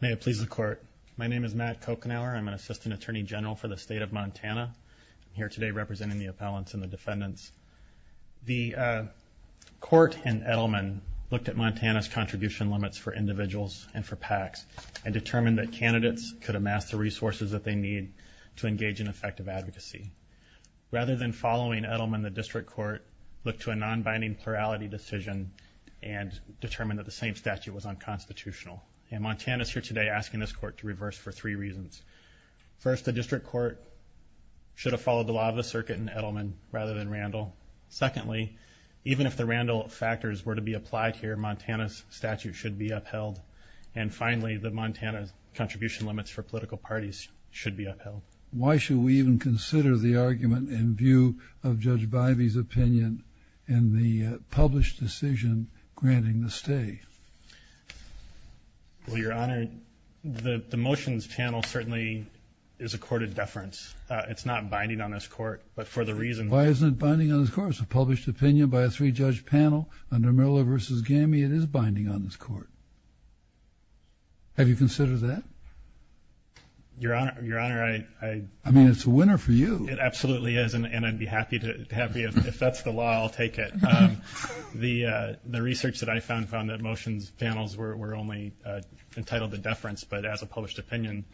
May it please the Court. My name is Matt Kochenauer. I'm an Assistant Attorney General for the State of Montana. I'm here today representing the appellants and the defendants. The Court and Edelman looked at Montana's contribution limits for individuals and for PACs and determined that candidates could amass the resources that they need to engage in effective advocacy. Rather than following Edelman, the District Court looked to a non-binding plurality decision and determined that the same statute was unconstitutional. And Montana's here today asking this Court to reverse for three reasons. First, the District Court should have followed the law of the circuit in Edelman rather than Randall. Secondly, even if the Randall factors were to be applied here, Montana's statute should be upheld. And finally, the Montana's contribution limits for political parties should be upheld. So, why should we even consider the argument in view of Judge Bivey's opinion in the published decision granting the stay? Well, Your Honor, the motion's channel certainly is a court of deference. It's not binding on this Court, but for the reason... Why isn't it binding on this Court? It's a published opinion by a three-judge panel under Miller v. Gamey. It is binding on this Court. Have you considered that? Your Honor, I... I mean, it's a winner for you. It absolutely is, and I'd be happy to... If that's the law, I'll take it. The research that I found found that motion's panels were only entitled to deference, but as a published opinion...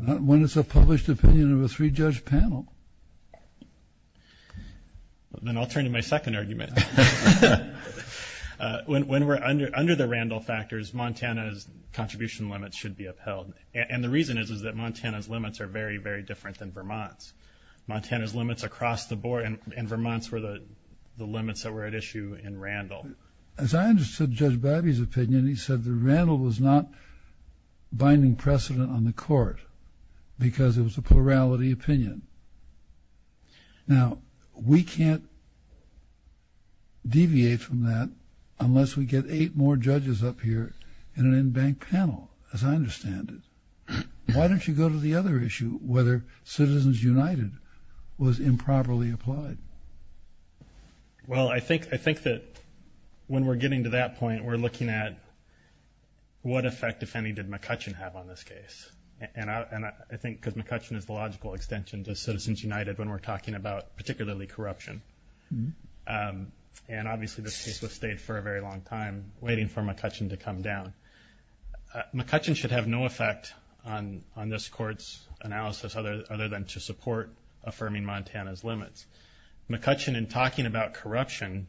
When it's a published opinion of a three-judge panel. Then I'll turn to my second argument. When we're under the Randall factors, Montana's limits are very, very different than Vermont's. Montana's limits across the board, and Vermont's were the limits that were at issue in Randall. As I understood Judge Bivey's opinion, he said that Randall was not binding precedent on the Court because it was a plurality opinion. Now, we can't deviate from that unless we get eight more judges up here in an in-bank panel, as I understand it. Why don't you go to the other issue, whether Citizens United was improperly applied? Well, I think that when we're getting to that point, we're looking at what effect, if any, did McCutcheon have on this case? I think because McCutcheon is the logical extension to Citizens United when we're talking about particularly corruption. Obviously, this case has stayed for a very long time waiting for McCutcheon to come down. McCutcheon should have no effect on this Court's analysis other than to support affirming Montana's limits. McCutcheon in talking about corruption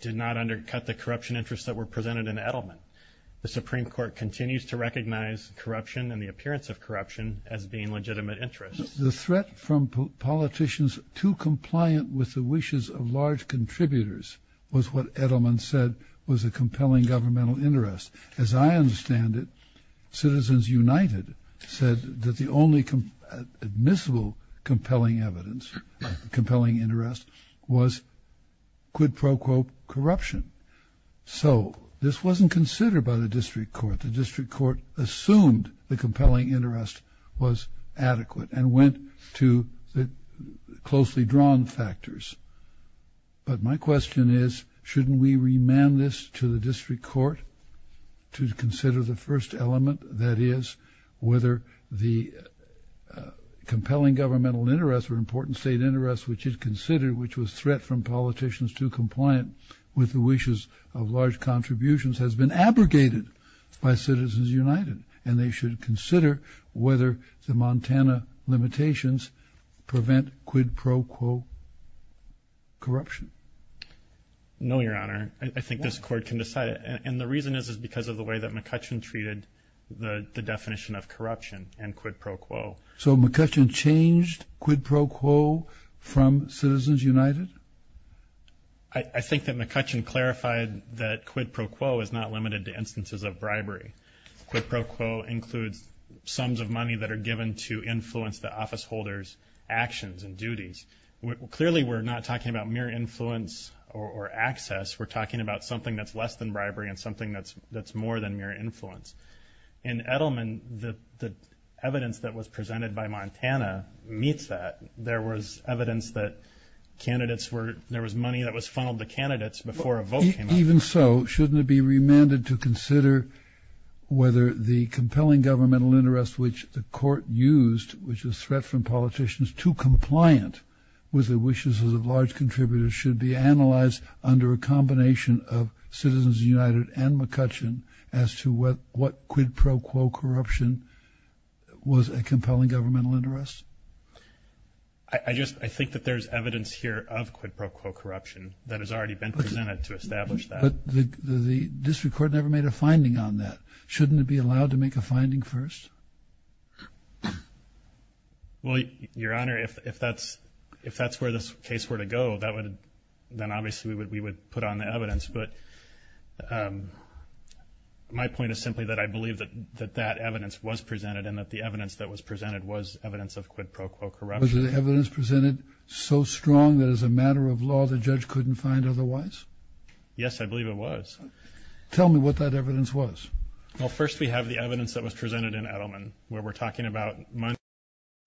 did not undercut the corruption interests that were presented in Edelman. The Supreme Court continues to recognize corruption and the appearance of corruption as being legitimate interests. The threat from politicians too compliant with the wishes of large contributors was what Edelman said was a compelling governmental interest. As I understand it, Citizens United said that the only admissible compelling evidence, compelling interest, was quid pro quo corruption. So this wasn't considered by the District Court. The District Court assumed the compelling and went to the closely drawn factors. But my question is, shouldn't we remand this to the District Court to consider the first element, that is, whether the compelling governmental interest or important state interest which is considered, which was threat from politicians too compliant with the wishes of large contributions has been abrogated by Citizens United and they should consider whether the Montana limitations prevent quid pro quo corruption? No Your Honor. I think this Court can decide. And the reason is because of the way that McCutcheon treated the definition of corruption and quid pro quo. So McCutcheon changed quid pro quo from Citizens United? I think that McCutcheon clarified that quid pro quo is not limited to instances of bribery. Quid pro quo includes sums of money that are given to influence the office holder's actions and duties. Clearly we're not talking about mere influence or access. We're talking about something that's less than bribery and something that's more than mere influence. In Edelman, the evidence that was presented by Montana meets that. There was evidence that candidates were, there was money that was funneled to candidates before a vote came out. Even so, shouldn't it be remanded to consider whether the compelling governmental interest which the Court used, which was threat from politicians too compliant with the wishes of large contributors, should be analyzed under a combination of Citizens United and McCutcheon as to what quid pro quo corruption was a compelling governmental interest? I just, I think that there's evidence here of quid pro quo corruption that has already been presented to establish that. But the District Court never made a finding on that. Shouldn't it be allowed to make a finding first? Well, Your Honor, if that's where this case were to go, that would, then obviously we would put on the evidence. But my point is simply that I believe that that evidence was presented and that the evidence that was presented was evidence of quid pro quo corruption. Was the evidence presented so strong that it was a matter of law that the judge couldn't find otherwise? Yes, I believe it was. Tell me what that evidence was. Well, first we have the evidence that was presented in Edelman where we're talking about money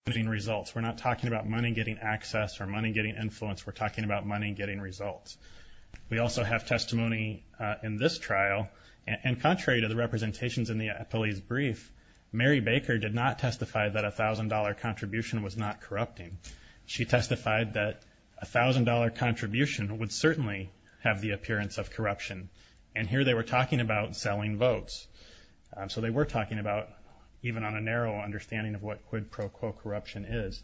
getting results. We're not talking about money getting access or money getting influence. We're talking about money getting results. We also have testimony in this trial and contrary to the representations in the appellee's brief, Mary Baker did not testify that a $1,000 contribution was not corrupting. She testified that a $1,000 contribution would certainly have the appearance of corruption. And here they were talking about selling votes. So they were talking about, even on a narrow understanding of what quid pro quo corruption is.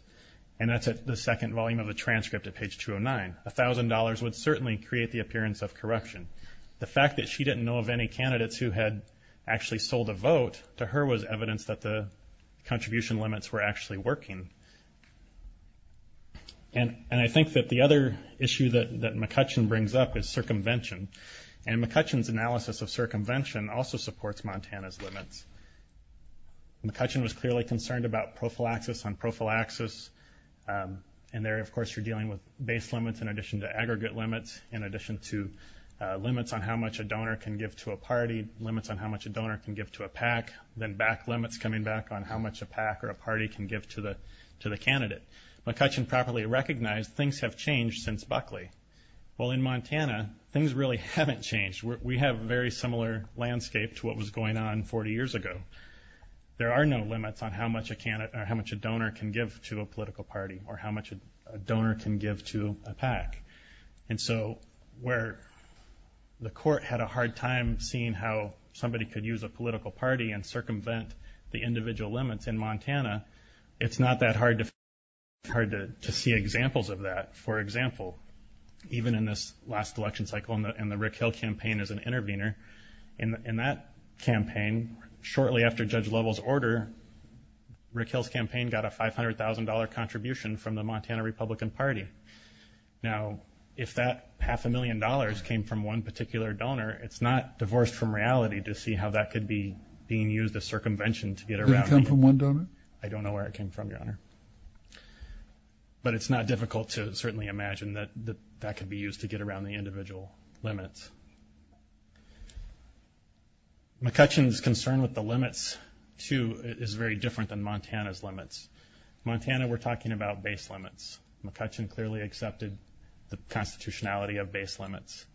And that's at the second volume of the transcript at page 209. $1,000 would certainly create the appearance of corruption. The fact that she didn't know of any candidates who had actually sold a vote. And I think that the other issue that McCutcheon brings up is circumvention. And McCutcheon's analysis of circumvention also supports Montana's limits. McCutcheon was clearly concerned about prophylaxis on prophylaxis. And there of course you're dealing with base limits in addition to aggregate limits, in addition to limits on how much a donor can give to a party, limits on how much a donor can give to a PAC, then back limits coming back on how much a PAC or a party can give to the candidate. McCutcheon properly recognized things have changed since Buckley. While in Montana, things really haven't changed. We have a very similar landscape to what was going on 40 years ago. There are no limits on how much a donor can give to a political party or how much a donor can give to a PAC. And so where the court had a hard time seeing how somebody could use a political party and circumvent the individual limits in Montana, it's not that hard to see examples of that. For example, even in this last election cycle and the Rick Hill campaign as an intervener, in that campaign, shortly after Judge Lovell's order, Rick Hill's campaign got a $500,000 contribution from the Montana Republican Party. Now if that half a million dollars came from one particular donor, it's not divorced from reality to see how that could be being used as circumvention to get around. Did it come from one donor? I don't know where it came from, Your Honor. But it's not difficult to certainly imagine that that could be used to get around the individual limits. McCutcheon's concern with the limits, too, is very different than Montana's limits. Montana, we're talking about base limits. McCutcheon clearly accepted the constitutionality of base limits.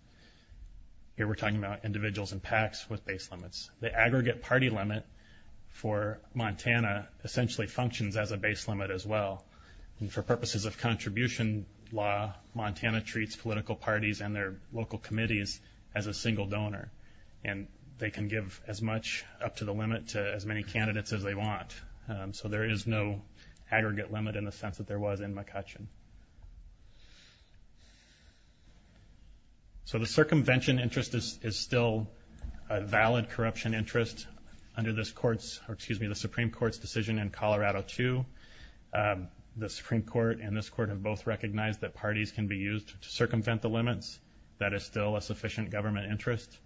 Here we're talking about individuals and PACs with base limits. The aggregate party limit for Montana essentially functions as a base limit as well. And for purposes of contribution law, Montana treats political parties and their local committees as a single donor. And they can give as much up to the limit to as many candidates as they want. So there is no aggregate limit in the sense that there was in McCutcheon. So the circumvention interest is still a valid corruption interest under this Supreme Court's decision in Colorado, too. The Supreme Court and this Court have both recognized that parties can be used to circumvent the limits. That is still a sufficient government interest.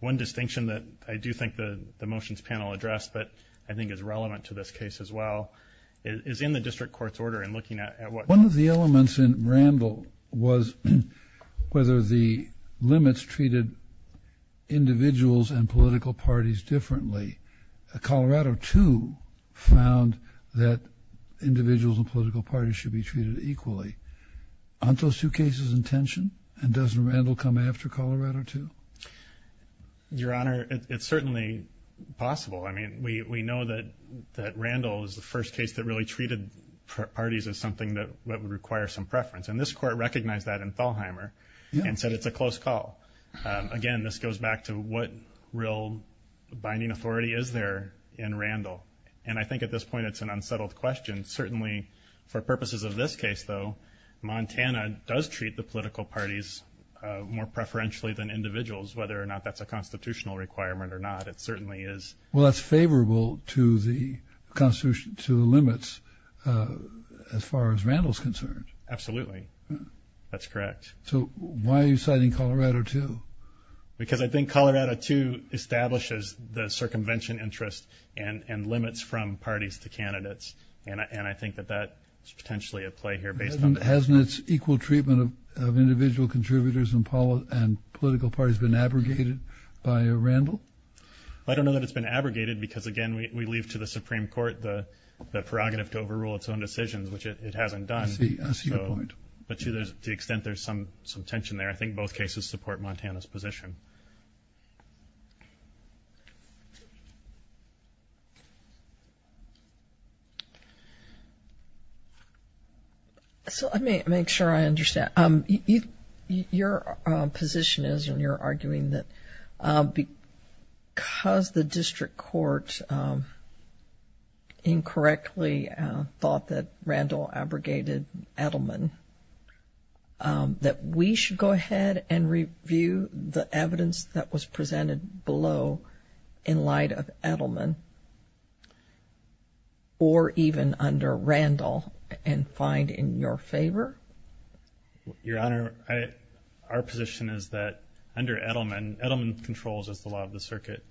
One distinction that I do think the motions panel addressed but I think is relevant to this case as well is in the district court's order and looking at what... One of the elements in Randall was whether the limits treated individuals and political parties differently. Colorado, too, found that individuals and political parties should be treated equally. Aren't those two cases in tension? And doesn't Randall come after Colorado, too? Your Honor, it's certainly possible. I mean, we know that Randall is the first case that really treated parties as something that would require some preference. And this Court recognized that in Thalheimer and said it's a close call. Again, this goes back to what real binding authority is there in Randall. And I think at this point it's an unsettled question. Certainly, for purposes of this case, though, Montana does treat the political parties more preferentially than individuals, whether or not that's a constitutional requirement or not. It certainly is. Well, that's favorable to the limits as far as Randall's concerned. Absolutely. That's correct. So why are you citing Colorado, too? Because I think Colorado, too, establishes the circumvention interest and limits from parties to candidates. And I think that that is potentially at play here based on... Hasn't its equal treatment of individual contributors and political parties been abrogated by Randall? I don't know that it's been abrogated because, again, we leave to the Supreme Court the prerogative to overrule its own decisions, which it hasn't done. I see your point. But to the extent there's some tension there, I think both cases support Montana's position. So let me make sure I understand. Your position is, and you're arguing that because the district court incorrectly thought that Randall abrogated Edelman, that we should go ahead and review the evidence that was presented below in light of Edelman or even under Randall and find in your favor? Your Honor, our position is that under Edelman, Edelman controls the law of the circuit.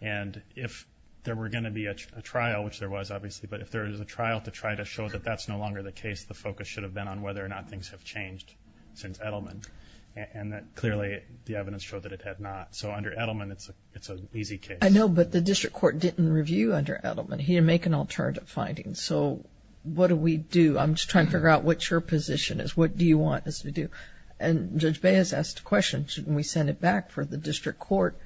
And if there were going to be a trial, which there was obviously, but if there is a trial to try to show that that's no longer the case, the focus should have been on whether or not things have changed since Edelman. And clearly, the evidence showed that it had not. So under Edelman, it's an easy case. I know, but the district court didn't review under Edelman. He didn't make an alternative finding. So what do we do? I'm just trying to figure out what your position is. What do you want us to do? And Judge Baez asked a question. Shouldn't we send it back for the district court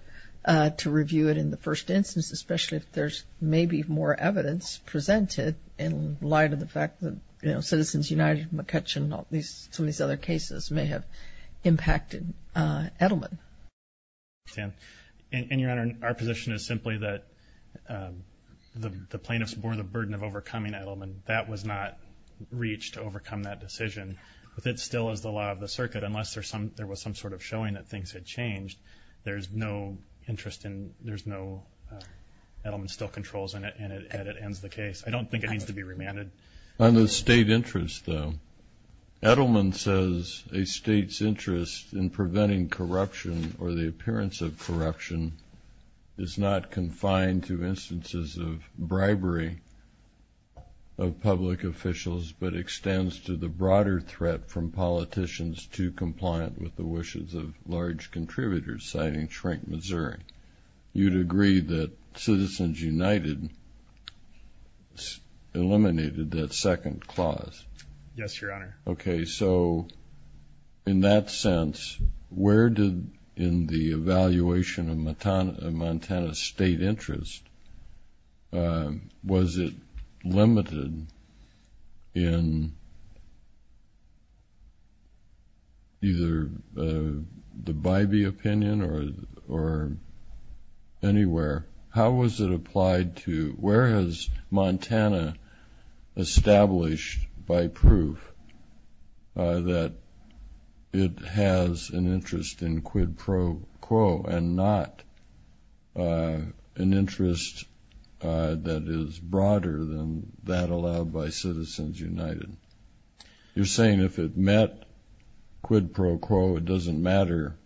to review it in the first instance, especially if there's maybe more evidence presented in light of the fact that, you know, Citizens United, McCutcheon, all these, some of these other cases may have impacted Edelman. And your Honor, our position is simply that the plaintiffs bore the burden of overcoming Edelman. That was not reached to overcome that decision. But that still is the law of the circuit. Unless there was some sort of showing that things had changed, there's no interest in, there's no, Edelman still controls and it ends the case. I don't think it needs to be remanded. On the state interest though, Edelman says a state's interest in preventing corruption or the appearance of corruption is not confined to instances of bribery of public officials, but extends to the broader threat from politicians to compliant with the wishes of large contributors, citing Shrink, Missouri. You'd agree that Citizens United eliminated that second clause. Yes, Your Honor. Okay. So in that sense, where did, in the evaluation of Montana state interest, was it limited in either the Bybee opinion or anywhere? How was it applied to, where has Montana established by proof that it has an interest in quid pro quo and not an interest that is broader than that allowed by Citizens United? You're saying if it met quid pro quo, it doesn't matter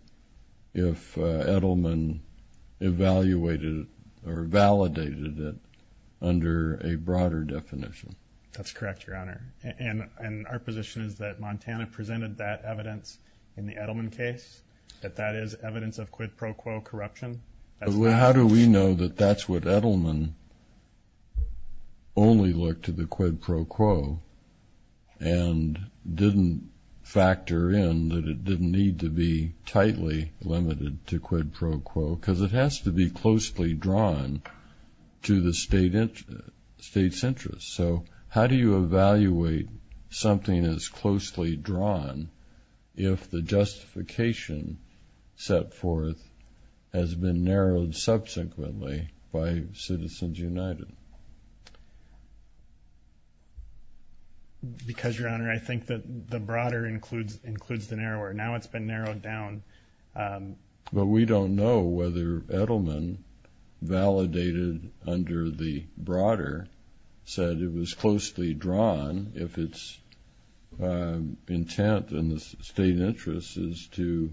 if Edelman evaluated or validated it under a broader definition. That's correct, Your Honor. And our position is that Montana presented that evidence in the Edelman case, that that is evidence of quid pro quo corruption. How do we know that that's what Edelman only looked to the quid pro quo and didn't factor in that it didn't need to be tightly limited to quid pro quo? Because it has to be closely drawn to the state's interest. So how do you evaluate something as closely drawn if the justification set forth has been narrowed subsequently by Citizens United? Because, Your Honor, I think that the broader includes the narrower. Now it's been narrowed down. But we don't know whether Edelman validated under the broader said it was closely drawn if its intent in the state interest is to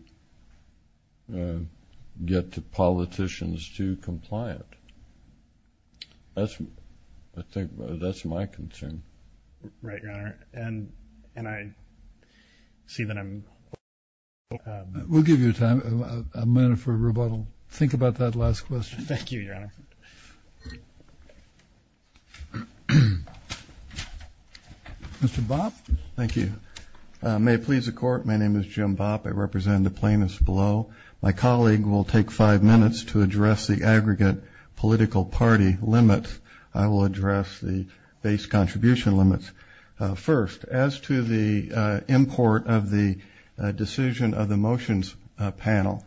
get the politicians to compliant. I think that's my concern. Right, Your Honor. And I see that I'm... We'll give you time, a minute for rebuttal. Think about that last question. Thank you, Your Honor. Mr. Bopp. Thank you. May it please the Court. My name is Jim Bopp. I represent the plaintiffs below. My colleague will take five minutes to address the aggregate political party limit. I will address the base contribution limits first. As to the import of the decision of the motions panel,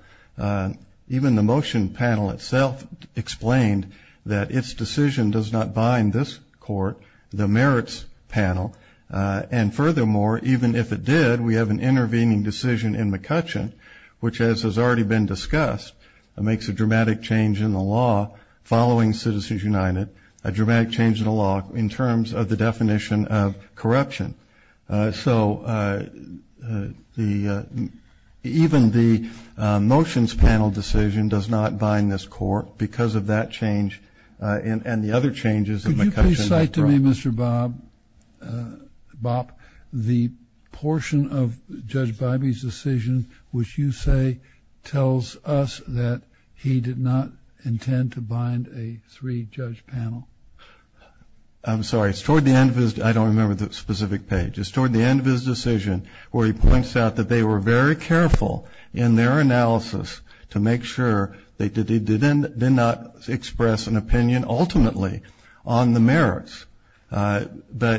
even the motion panel itself explained that its decision does not bind this court, the merits panel. And furthermore, even if it did, we have an intervening decision in McCutcheon, which as has already been discussed, makes a dramatic change in the law following Citizens United, a dramatic change in the law in terms of the definition of corruption. So even the motions panel decision does not bind this court because of that change and the other changes... Could you please cite to me, Mr. Bopp, the portion of Judge Bybee's decision which you say tells us that he did not intend to bind a three-judge panel? I'm sorry. It's toward the end of his... I don't remember the specific page. It's toward the end of his decision where he points out that they were very careful in their analysis to make sure they did not express an opinion ultimately on the merits. But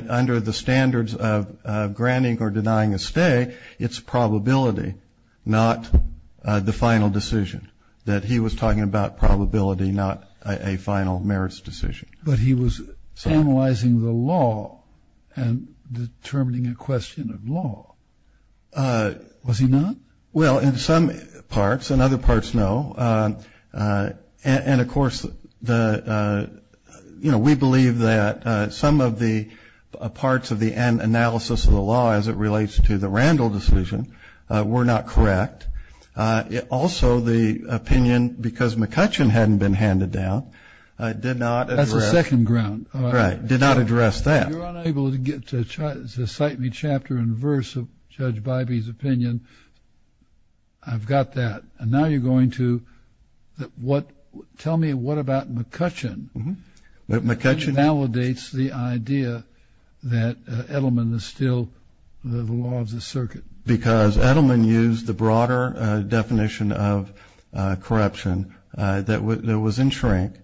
under the standards of granting or denying a stay, it's probability, not the final decision, that he was talking about probability, not a final merits decision. But he was analyzing the law and determining a question of law, was he not? Well, in some parts. In other parts, no. And, of course, we believe that some of the parts of the analysis of the law as it relates to the Randall decision were not correct. Also, the opinion, because McCutcheon hadn't been handed down, did not address... That's the second ground. Right, did not address that. If you're unable to cite me chapter and verse of Judge Bybee's opinion, I've got that. And now you're going to tell me what about McCutcheon that validates the idea that Edelman is still the law of the circuit? Because Edelman used the broader definition of corruption that was in shrink,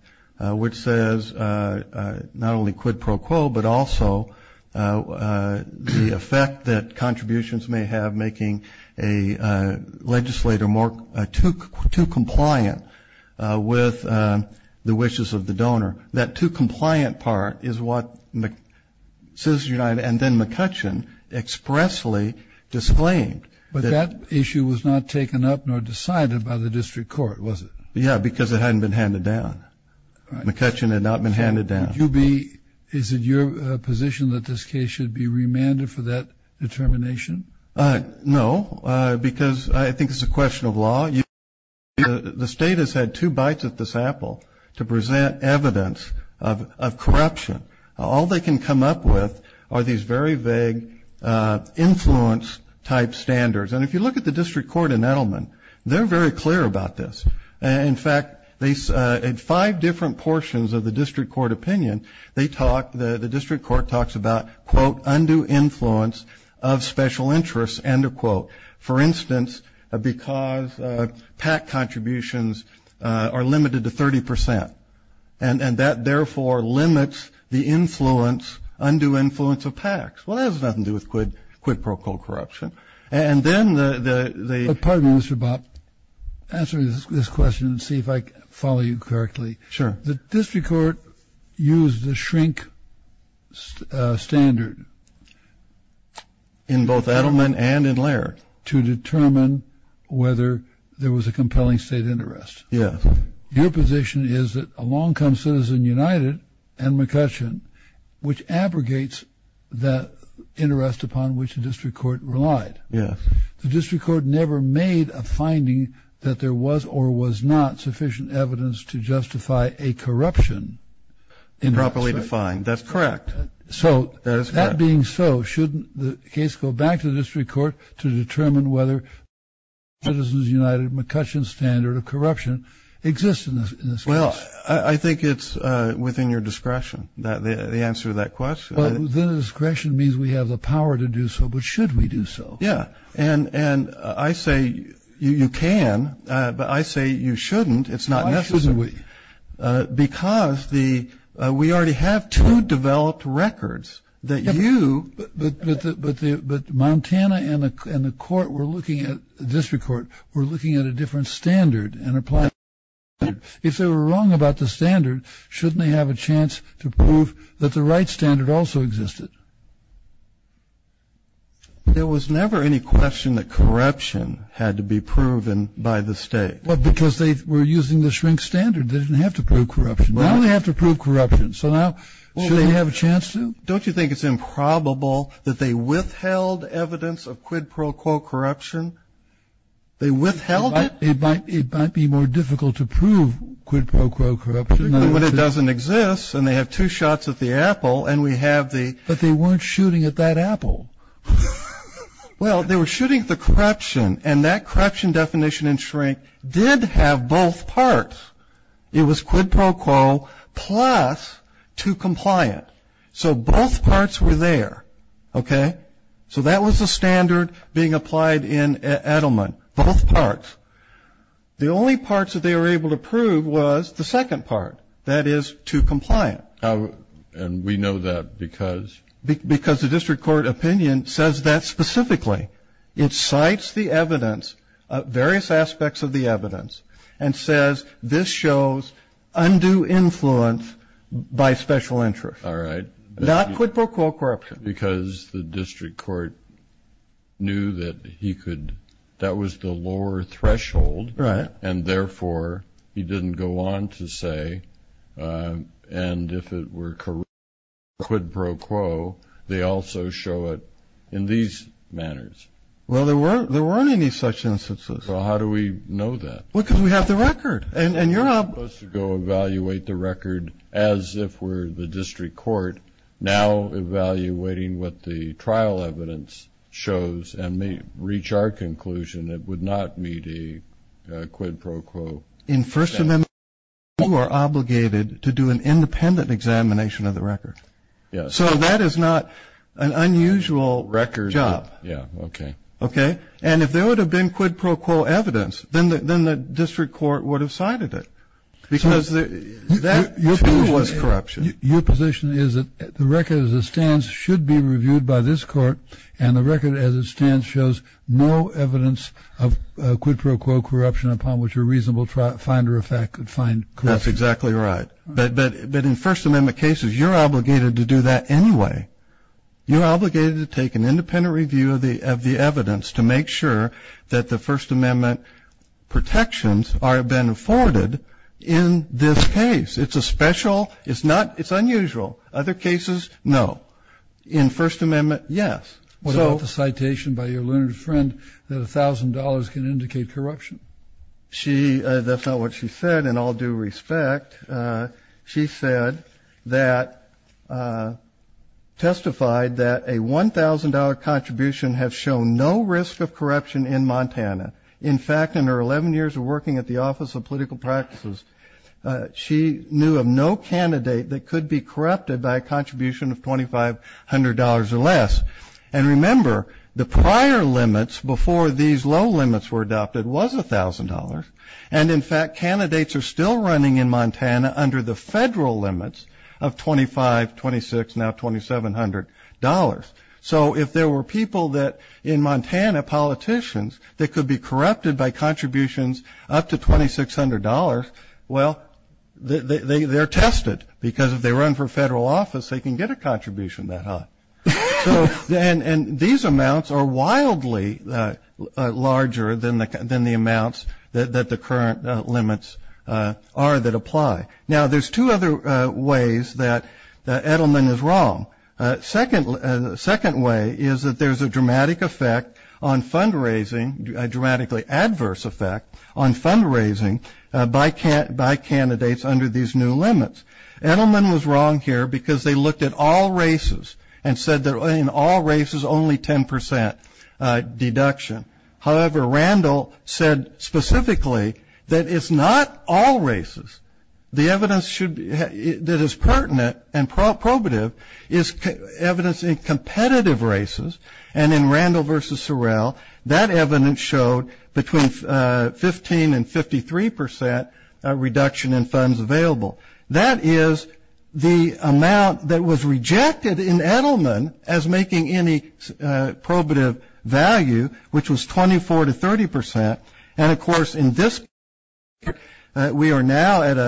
which says not only quid pro quo, but also the effect that contributions may have a legislator too compliant with the wishes of the donor. That too compliant part is what Citizens United and then McCutcheon expressly disclaimed. But that issue was not taken up nor decided by the district court, was it? Yeah, because it hadn't been handed down. McCutcheon had not been handed down. Is it your position that this case should be remanded for that determination? No, because I think it's a question of law. The state has had two bites at this apple to present evidence of corruption. All they can come up with are these very vague influence type standards. And if you look at the district court in Edelman, they're very clear about this. And in fact, in five different portions of the district court opinion, they talk, the district court talks about, quote, undue influence of special interests, end of quote. For instance, because PAC contributions are limited to 30%. And that therefore limits the influence, undue influence of PACs. Well, that has nothing to do with quid pro quo corruption. And then the... Pardon me, Mr. Bopp. Answer this question and see if I follow you correctly. Sure. The district court used the shrink standard. In both Edelman and in Laird. To determine whether there was a compelling state interest. Yes. Your position is that along comes Citizen United and McCutcheon, which abrogates that interest upon which the district court relied. Yes. The district court never made a finding that there was or was not sufficient evidence to justify a corruption. Improperly defined. That's correct. So that being so, shouldn't the case go back to the district court to determine whether Citizens United, McCutcheon standard of corruption exists in this case? Well, I think it's within your discretion, the answer to that question. But within discretion means we have the power to do so. But should we do so? Yeah. And I say you can, but I say you shouldn't. It's not necessary. Why shouldn't we? Because we already have two developed records that you. But Montana and the court were looking at, the district court, were looking at a different standard and applying it. If they were wrong about the standard, shouldn't they have a chance to prove that the right standard also existed? There was never any question that corruption had to be proven by the state. Because they were using the shrink standard. They didn't have to prove corruption. Now they have to prove corruption. So now should we have a chance to? Don't you think it's improbable that they withheld evidence of quid pro quo corruption? They withheld it? It might be more difficult to prove quid pro quo corruption. But it doesn't exist. And they have two shots at the apple. And we have the. But they weren't shooting at that apple. Well, they were shooting at the corruption. And that corruption definition in shrink did have both parts. It was quid pro quo plus to compliant. So both parts were there. Okay. So that was the standard being applied in Edelman. Both parts. The only parts that they were able to prove was the second part. That is to compliant. And we know that because. Because the district court opinion says that specifically. It cites the evidence of various aspects of the evidence. And says this shows undue influence by special interest. All right. Not quid pro quo corruption. Because the district court knew that he could. That was the lower threshold. Right. And therefore he didn't go on to say. And if it were correct quid pro quo. They also show it in these manners. Well, there weren't any such instances. Well, how do we know that? Well, because we have the record. And you're not supposed to go evaluate the record. As if we're the district court. Now evaluating what the trial evidence shows. And may reach our conclusion. It would not meet a quid pro quo. In first amendment. You are obligated to do an independent examination of the record. So that is not an unusual record job. Yeah. Okay. Okay. And if there would have been quid pro quo evidence. Then the district court would have cited it. Because that was corruption. Your position is that the record as it stands. Should be reviewed by this court. And the record as it stands. Shows no evidence of quid pro quo corruption. Upon which a reasonable finder of fact could find. That's exactly right. But in first amendment cases. You're obligated to do that anyway. You're obligated to take an independent review of the evidence. To make sure that the first amendment protections have been afforded. In this case. It's a special. It's not. It's unusual. Other cases. No. In first amendment. Yes. What about the citation by your learned friend. That a thousand dollars can indicate corruption. She. That's not what she said. In all due respect. She said that. Testified that a $1,000 contribution. Have shown no risk of corruption in Montana. In fact. In her 11 years of working at the office of political practices. She knew of no candidate that could be corrupted. By a contribution of $2,500 or less. And remember. The prior limits. Before these low limits were adopted. Was a thousand dollars. And in fact. Candidates are still running in Montana. Under the federal limits. Of 25. 26. Now $2,700. So if there were people that. In Montana. Politicians. That could be corrupted by contributions. Up to $2,600. Well. They're tested. Because if they run for federal office. They can get a contribution that high. So then. And these amounts are wildly. Larger than the. Than the amounts. That the current limits. Are that apply. Now there's two other ways that. Edelman is wrong. Second. Second way. Is that there's a dramatic effect. On fundraising. Dramatically adverse effect. On fundraising. By candidates under these new limits. Edelman was wrong here. Because they looked at all races. And said that in all races. Only 10%. Deduction. However. Randall. Said specifically. That it's not all races. The evidence should. That is pertinent. And probative. Is evidence in competitive races. And in Randall versus Sorrell. That evidence showed. Between 15 and 53%. Reduction in funds available. That is. The amount that was rejected. In Edelman. As making any. Probative value. Which was 24 to 30%. And of course. In this. We are now at.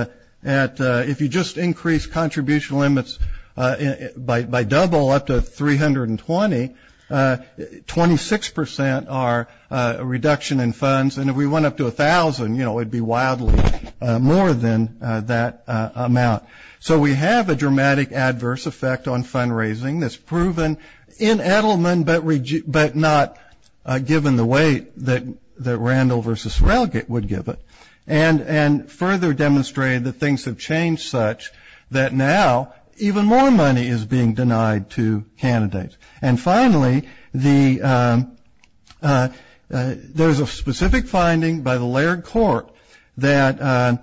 At. If you just increase contribution limits. By double up to 320. 26% are. Reduction in funds. And if we went up to 1000. You know. It'd be wildly. More than that amount. So we have a dramatic adverse effect. On fundraising. That's proven. In Edelman. But not. Given the way. That. That Randall versus Sorrell. Would give it. And. And further demonstrated. That things have changed. Such. That now. Even more money is being denied. To candidates. And finally. The. There's a specific finding. By the layered court. That.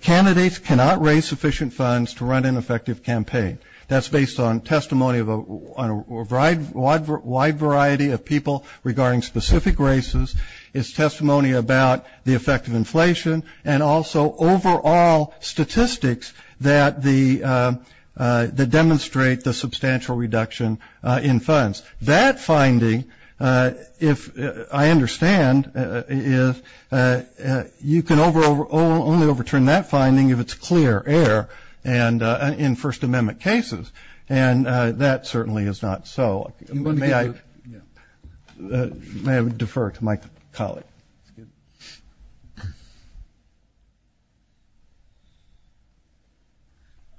Candidates cannot raise sufficient funds. To run an effective campaign. That's based on testimony of a. Wide. Wide variety of people. Regarding specific races. It's testimony about. The effect of inflation. And also overall statistics. That the. That demonstrate the substantial reduction. In funds. That finding. If. I understand. Is. You can over. Only overturn that finding. If it's clear air. And. In first amendment cases. And. That certainly is not. So. May I defer to my colleague.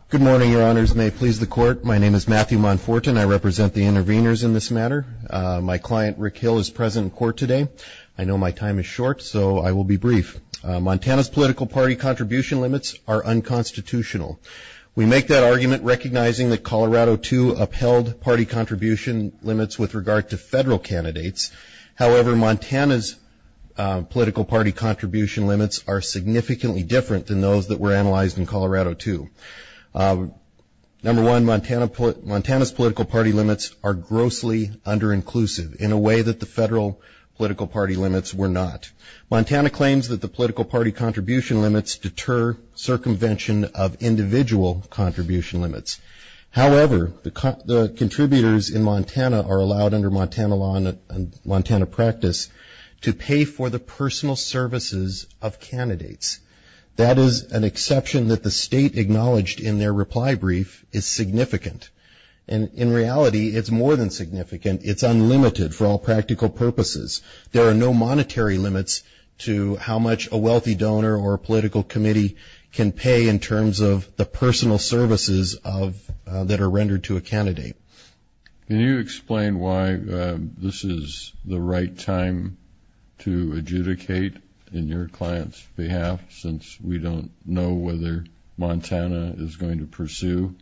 Good morning. Your honors. May please the court. My name is Matthew Monforton. I represent the interveners in this matter. My client Rick Hill is present in court today. I know my time is short. So I will be brief. Montana's political party contribution limits are unconstitutional. We make that argument. Recognizing that Colorado too. Upheld party contribution limits. With regard to federal candidates. However Montana's. Political party contribution limits are significantly different. Than those that were analyzed in Colorado too. Number one Montana. Montana's political party limits are grossly under inclusive. In a way that the federal political party limits were not. Montana claims that the political party contribution limits. Deter circumvention of individual contribution limits. However the contributors in Montana. Are allowed under Montana law and Montana practice. To pay for the personal services of candidates. That is an exception that the state acknowledged in their reply brief. Is significant. And in reality it's more than significant. It's unlimited for all practical purposes. There are no monetary limits. To how much a wealthy donor or political committee. Can pay in terms of the personal services of that are rendered to a candidate. Can you explain why this is the right time. To adjudicate in your client's behalf. Since we don't know whether Montana is going to pursue.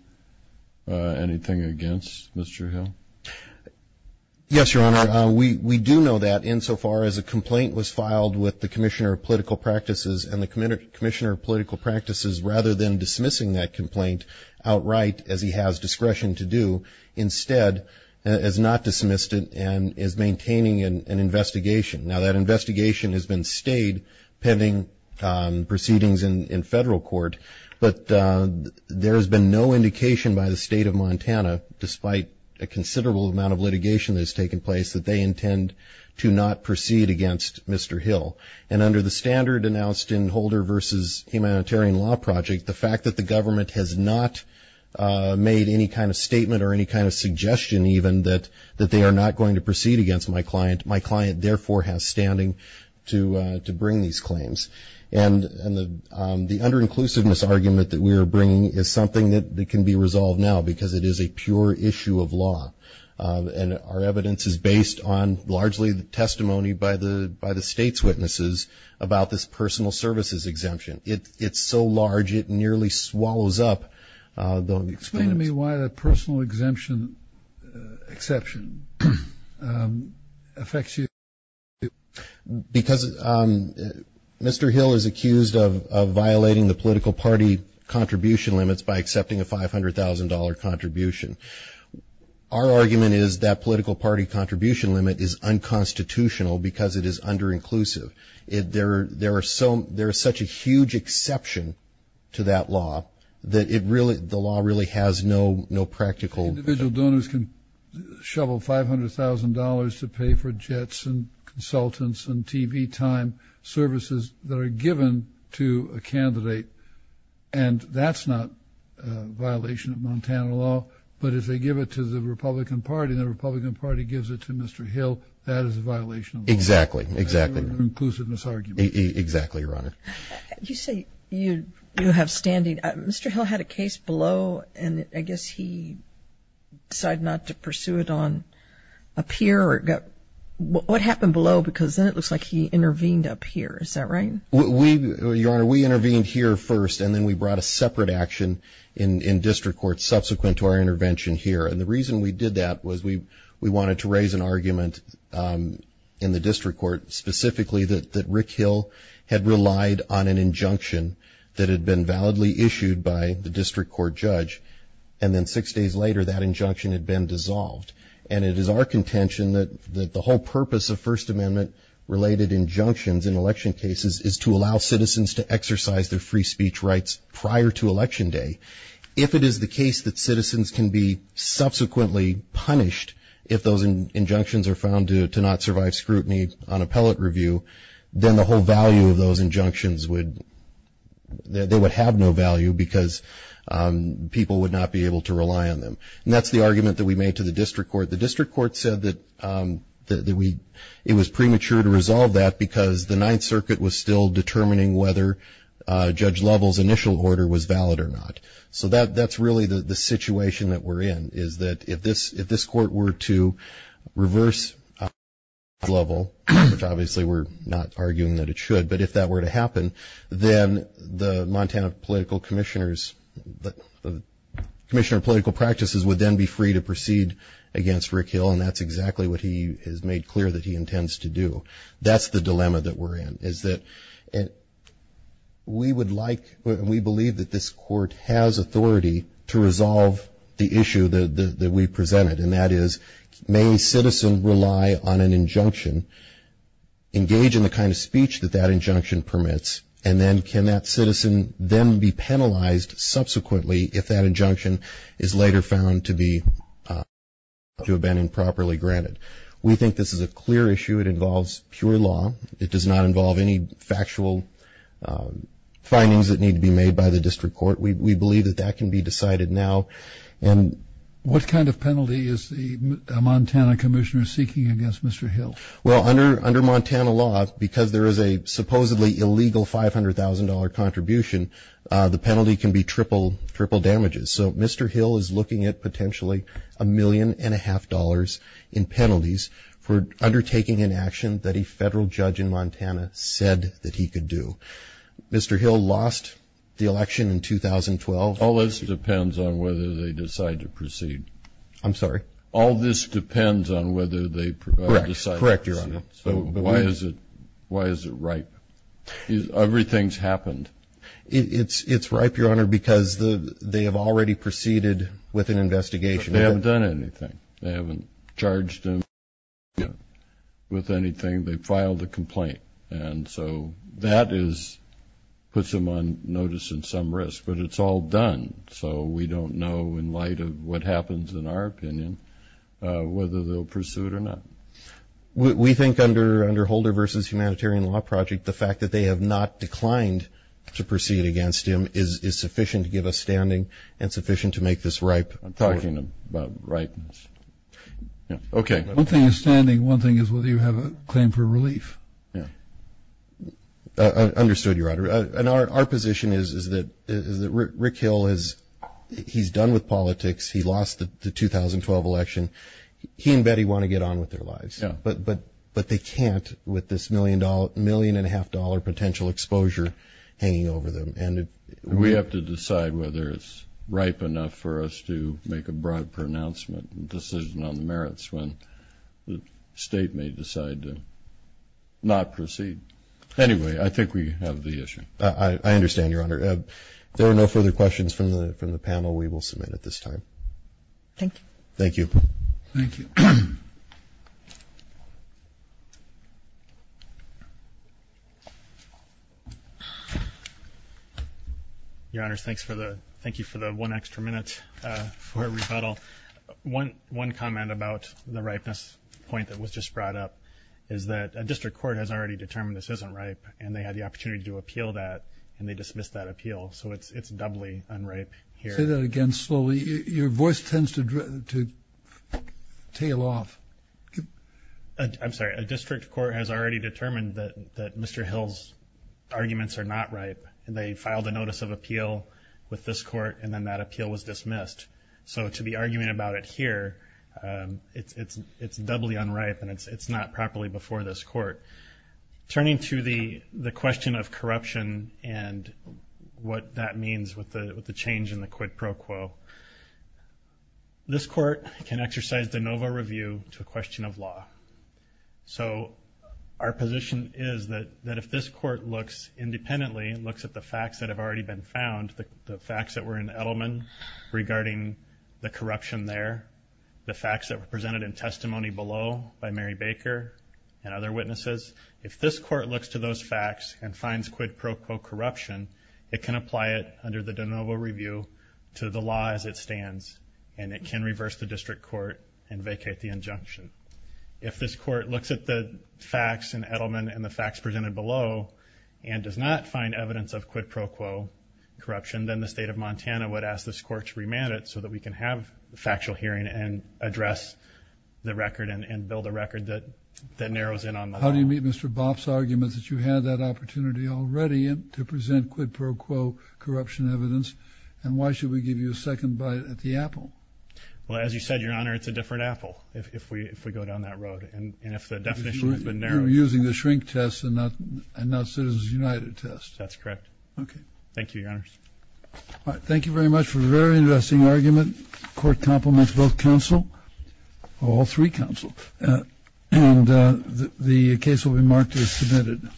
Anything against Mr. Hill. Yes your honor. We do know that insofar as a complaint. Was filed with the commissioner of political practices. And the commissioner of political practices. Rather than dismissing that complaint outright. As he has discretion to do instead. Has not dismissed it and is maintaining an investigation. Now that investigation has been stayed. Pending proceedings in federal court. But there has been no indication by the state of Montana. Despite a considerable amount of litigation. That has taken place. That they intend to not proceed against Mr. Hill. And under the standard announced in Holder versus humanitarian law project. The fact that the government has not made any kind of statement. Or any kind of suggestion even. That they are not going to proceed against my client. My client therefore has standing to bring these claims. And the under inclusiveness argument. That we are bringing is something that can be resolved now. Because it is a pure issue of law. And our evidence is based on. Largely the testimony by the by the state's witnesses. About this personal services exemption. It's so large it nearly swallows up. Explain to me why the personal exemption exception affects you. Because Mr. Hill is accused of violating the political party. Contribution limits by accepting a $500,000 contribution. Our argument is that political party contribution limit is unconstitutional. Because it is under inclusive. There is such a huge exception to that law. The law really has no practical. Individual donors can shovel $500,000 to pay for jets and consultants. And TV time services that are given to a candidate. And that's not a violation of Montana law. But if they give it to the Republican party. The Republican party gives it to Mr. Hill. That is a violation. Exactly. Exactly. Inclusiveness argument. Exactly your honor. You say you you have standing. Mr. Hill had a case below. And I guess he decided not to pursue it on. Up here or got what happened below. Because then it looks like he intervened up here. Is that right? Your honor we intervened here first. And then we brought a separate action. In district court subsequent to our intervention here. And the reason we did that. Was we we wanted to raise an argument. In the district court. Specifically that that Rick Hill. Had relied on an injunction. That had been validly issued by the district court judge. And then six days later that injunction had been dissolved. And it is our contention. That the whole purpose of first amendment. Related injunctions in election cases. Is to allow citizens to exercise their free speech rights. Prior to election day. If it is the case. That citizens can be subsequently punished. If those injunctions are found to not survive scrutiny. On appellate review. Then the whole value of those injunctions would. They would have no value. Because people would not be able to rely on them. And that's the argument that we made to the district court. The district court said that. That we it was premature to resolve that. Because the ninth circuit was still determining. Whether judge levels initial order was valid or not. So that that's really the situation that we're in. Is that if this if this court were to reverse level. Which obviously we're not arguing that it should. But if that were to happen. Then the Montana political commissioners. Commissioner political practices would then be free. To proceed against Rick Hill. And that's exactly what he has made clear. That he intends to do. That's the dilemma that we're in. Is that it we would like. We believe that this court has authority. To resolve the issue that we presented. And that is may a citizen rely on an injunction. Engage in the kind of speech that that injunction permits. And then can that citizen then be penalized subsequently. If that injunction is later found to be. To have been improperly granted. We think this is a clear issue. It involves pure law. It does not involve any factual. Findings that need to be made by the district court. We believe that that can be decided now. And what kind of penalty is the Montana commissioner. Seeking against Mr. Hill. Well under under Montana law. Because there is a supposedly illegal $500,000 contribution. The penalty can be triple triple damages. So Mr. Hill is looking at potentially. A million and a half dollars in penalties. For undertaking an action. That a federal judge in Montana said that he could do. Mr. Hill lost the election in 2012. All this depends on whether they decide to proceed. I'm sorry. All this depends on whether they decide. Correct your honor. So why is it. Why is it right. Everything's happened. It's it's ripe your honor. Because the they have already proceeded. With an investigation. They haven't done anything. They haven't charged him. With anything. They filed a complaint. And so that is. Puts him on notice in some risk. But it's all done. So we don't know in light of what happens in our opinion. Whether they'll pursue it or not. We think under under Holder versus humanitarian law project. The fact that they have not declined. To proceed against him is sufficient to give us standing. And sufficient to make this right. I'm talking about rightness. Yeah okay. One thing is standing. One thing is whether you have a claim for relief. Yeah understood your honor. And our position is is that is that Rick Hill is. He's done with politics. He lost the 2012 election. He and Betty want to get on with their lives. But but but they can't. With this million dollar million and a half dollar potential exposure. Hanging over them. And we have to decide whether it's ripe enough. For us to make a broad pronouncement. Decision on the merits. When the state may decide to not proceed. Anyway I think we have the issue. I understand your honor. There are no further questions from the from the panel. We will submit at this time. Thank you. Thank you. Thank you. Your honor thanks for the. Thank you for the one extra minute for a rebuttal. One one comment about the ripeness point that was just brought up. Is that a district court has already determined this isn't ripe. And they had the opportunity to appeal that. And they dismissed that appeal. So it's it's doubly unripe here. Say that again slowly. Your voice tends to to tail off. I'm sorry a district court has already determined that that Mr. Hill's. Arguments are not ripe. And they filed a notice of appeal with this court. And then that appeal was dismissed. So to be arguing about it here. It's it's it's doubly unripe. And it's it's not properly before this court. Turning to the the question of corruption. And what that means with the with the change in the quid pro quo. This court can exercise de novo review to a question of law. So our position is that that if this court looks independently. It looks at the facts that have already been found. The facts that were in Edelman. Regarding the corruption there. The facts that were presented in testimony below. By Mary Baker and other witnesses. If this court looks to those facts. And finds quid pro quo corruption. It can apply it under the de novo review. To the law as it stands. And it can reverse the district court. And vacate the injunction. If this court looks at the facts in Edelman. And the facts presented below. And does not find evidence of quid pro quo. Corruption. Then the state of Montana would ask this court to remand it. So that we can have a factual hearing. And address the record. And build a record that that narrows in on. How do you meet Mr. Bopp's arguments? That you had that opportunity already. And to present quid pro quo corruption evidence. And why should we give you a second bite at the apple? Well as you said your honor. It's a different apple. If we if we go down that road. And if the definition has been narrowed. Using the shrink test. And not and not citizens united test. That's correct. Okay thank you your honors. All right thank you very much for a very interesting argument. Court compliments both counsel. All three counsel. And the case will be marked as submitted.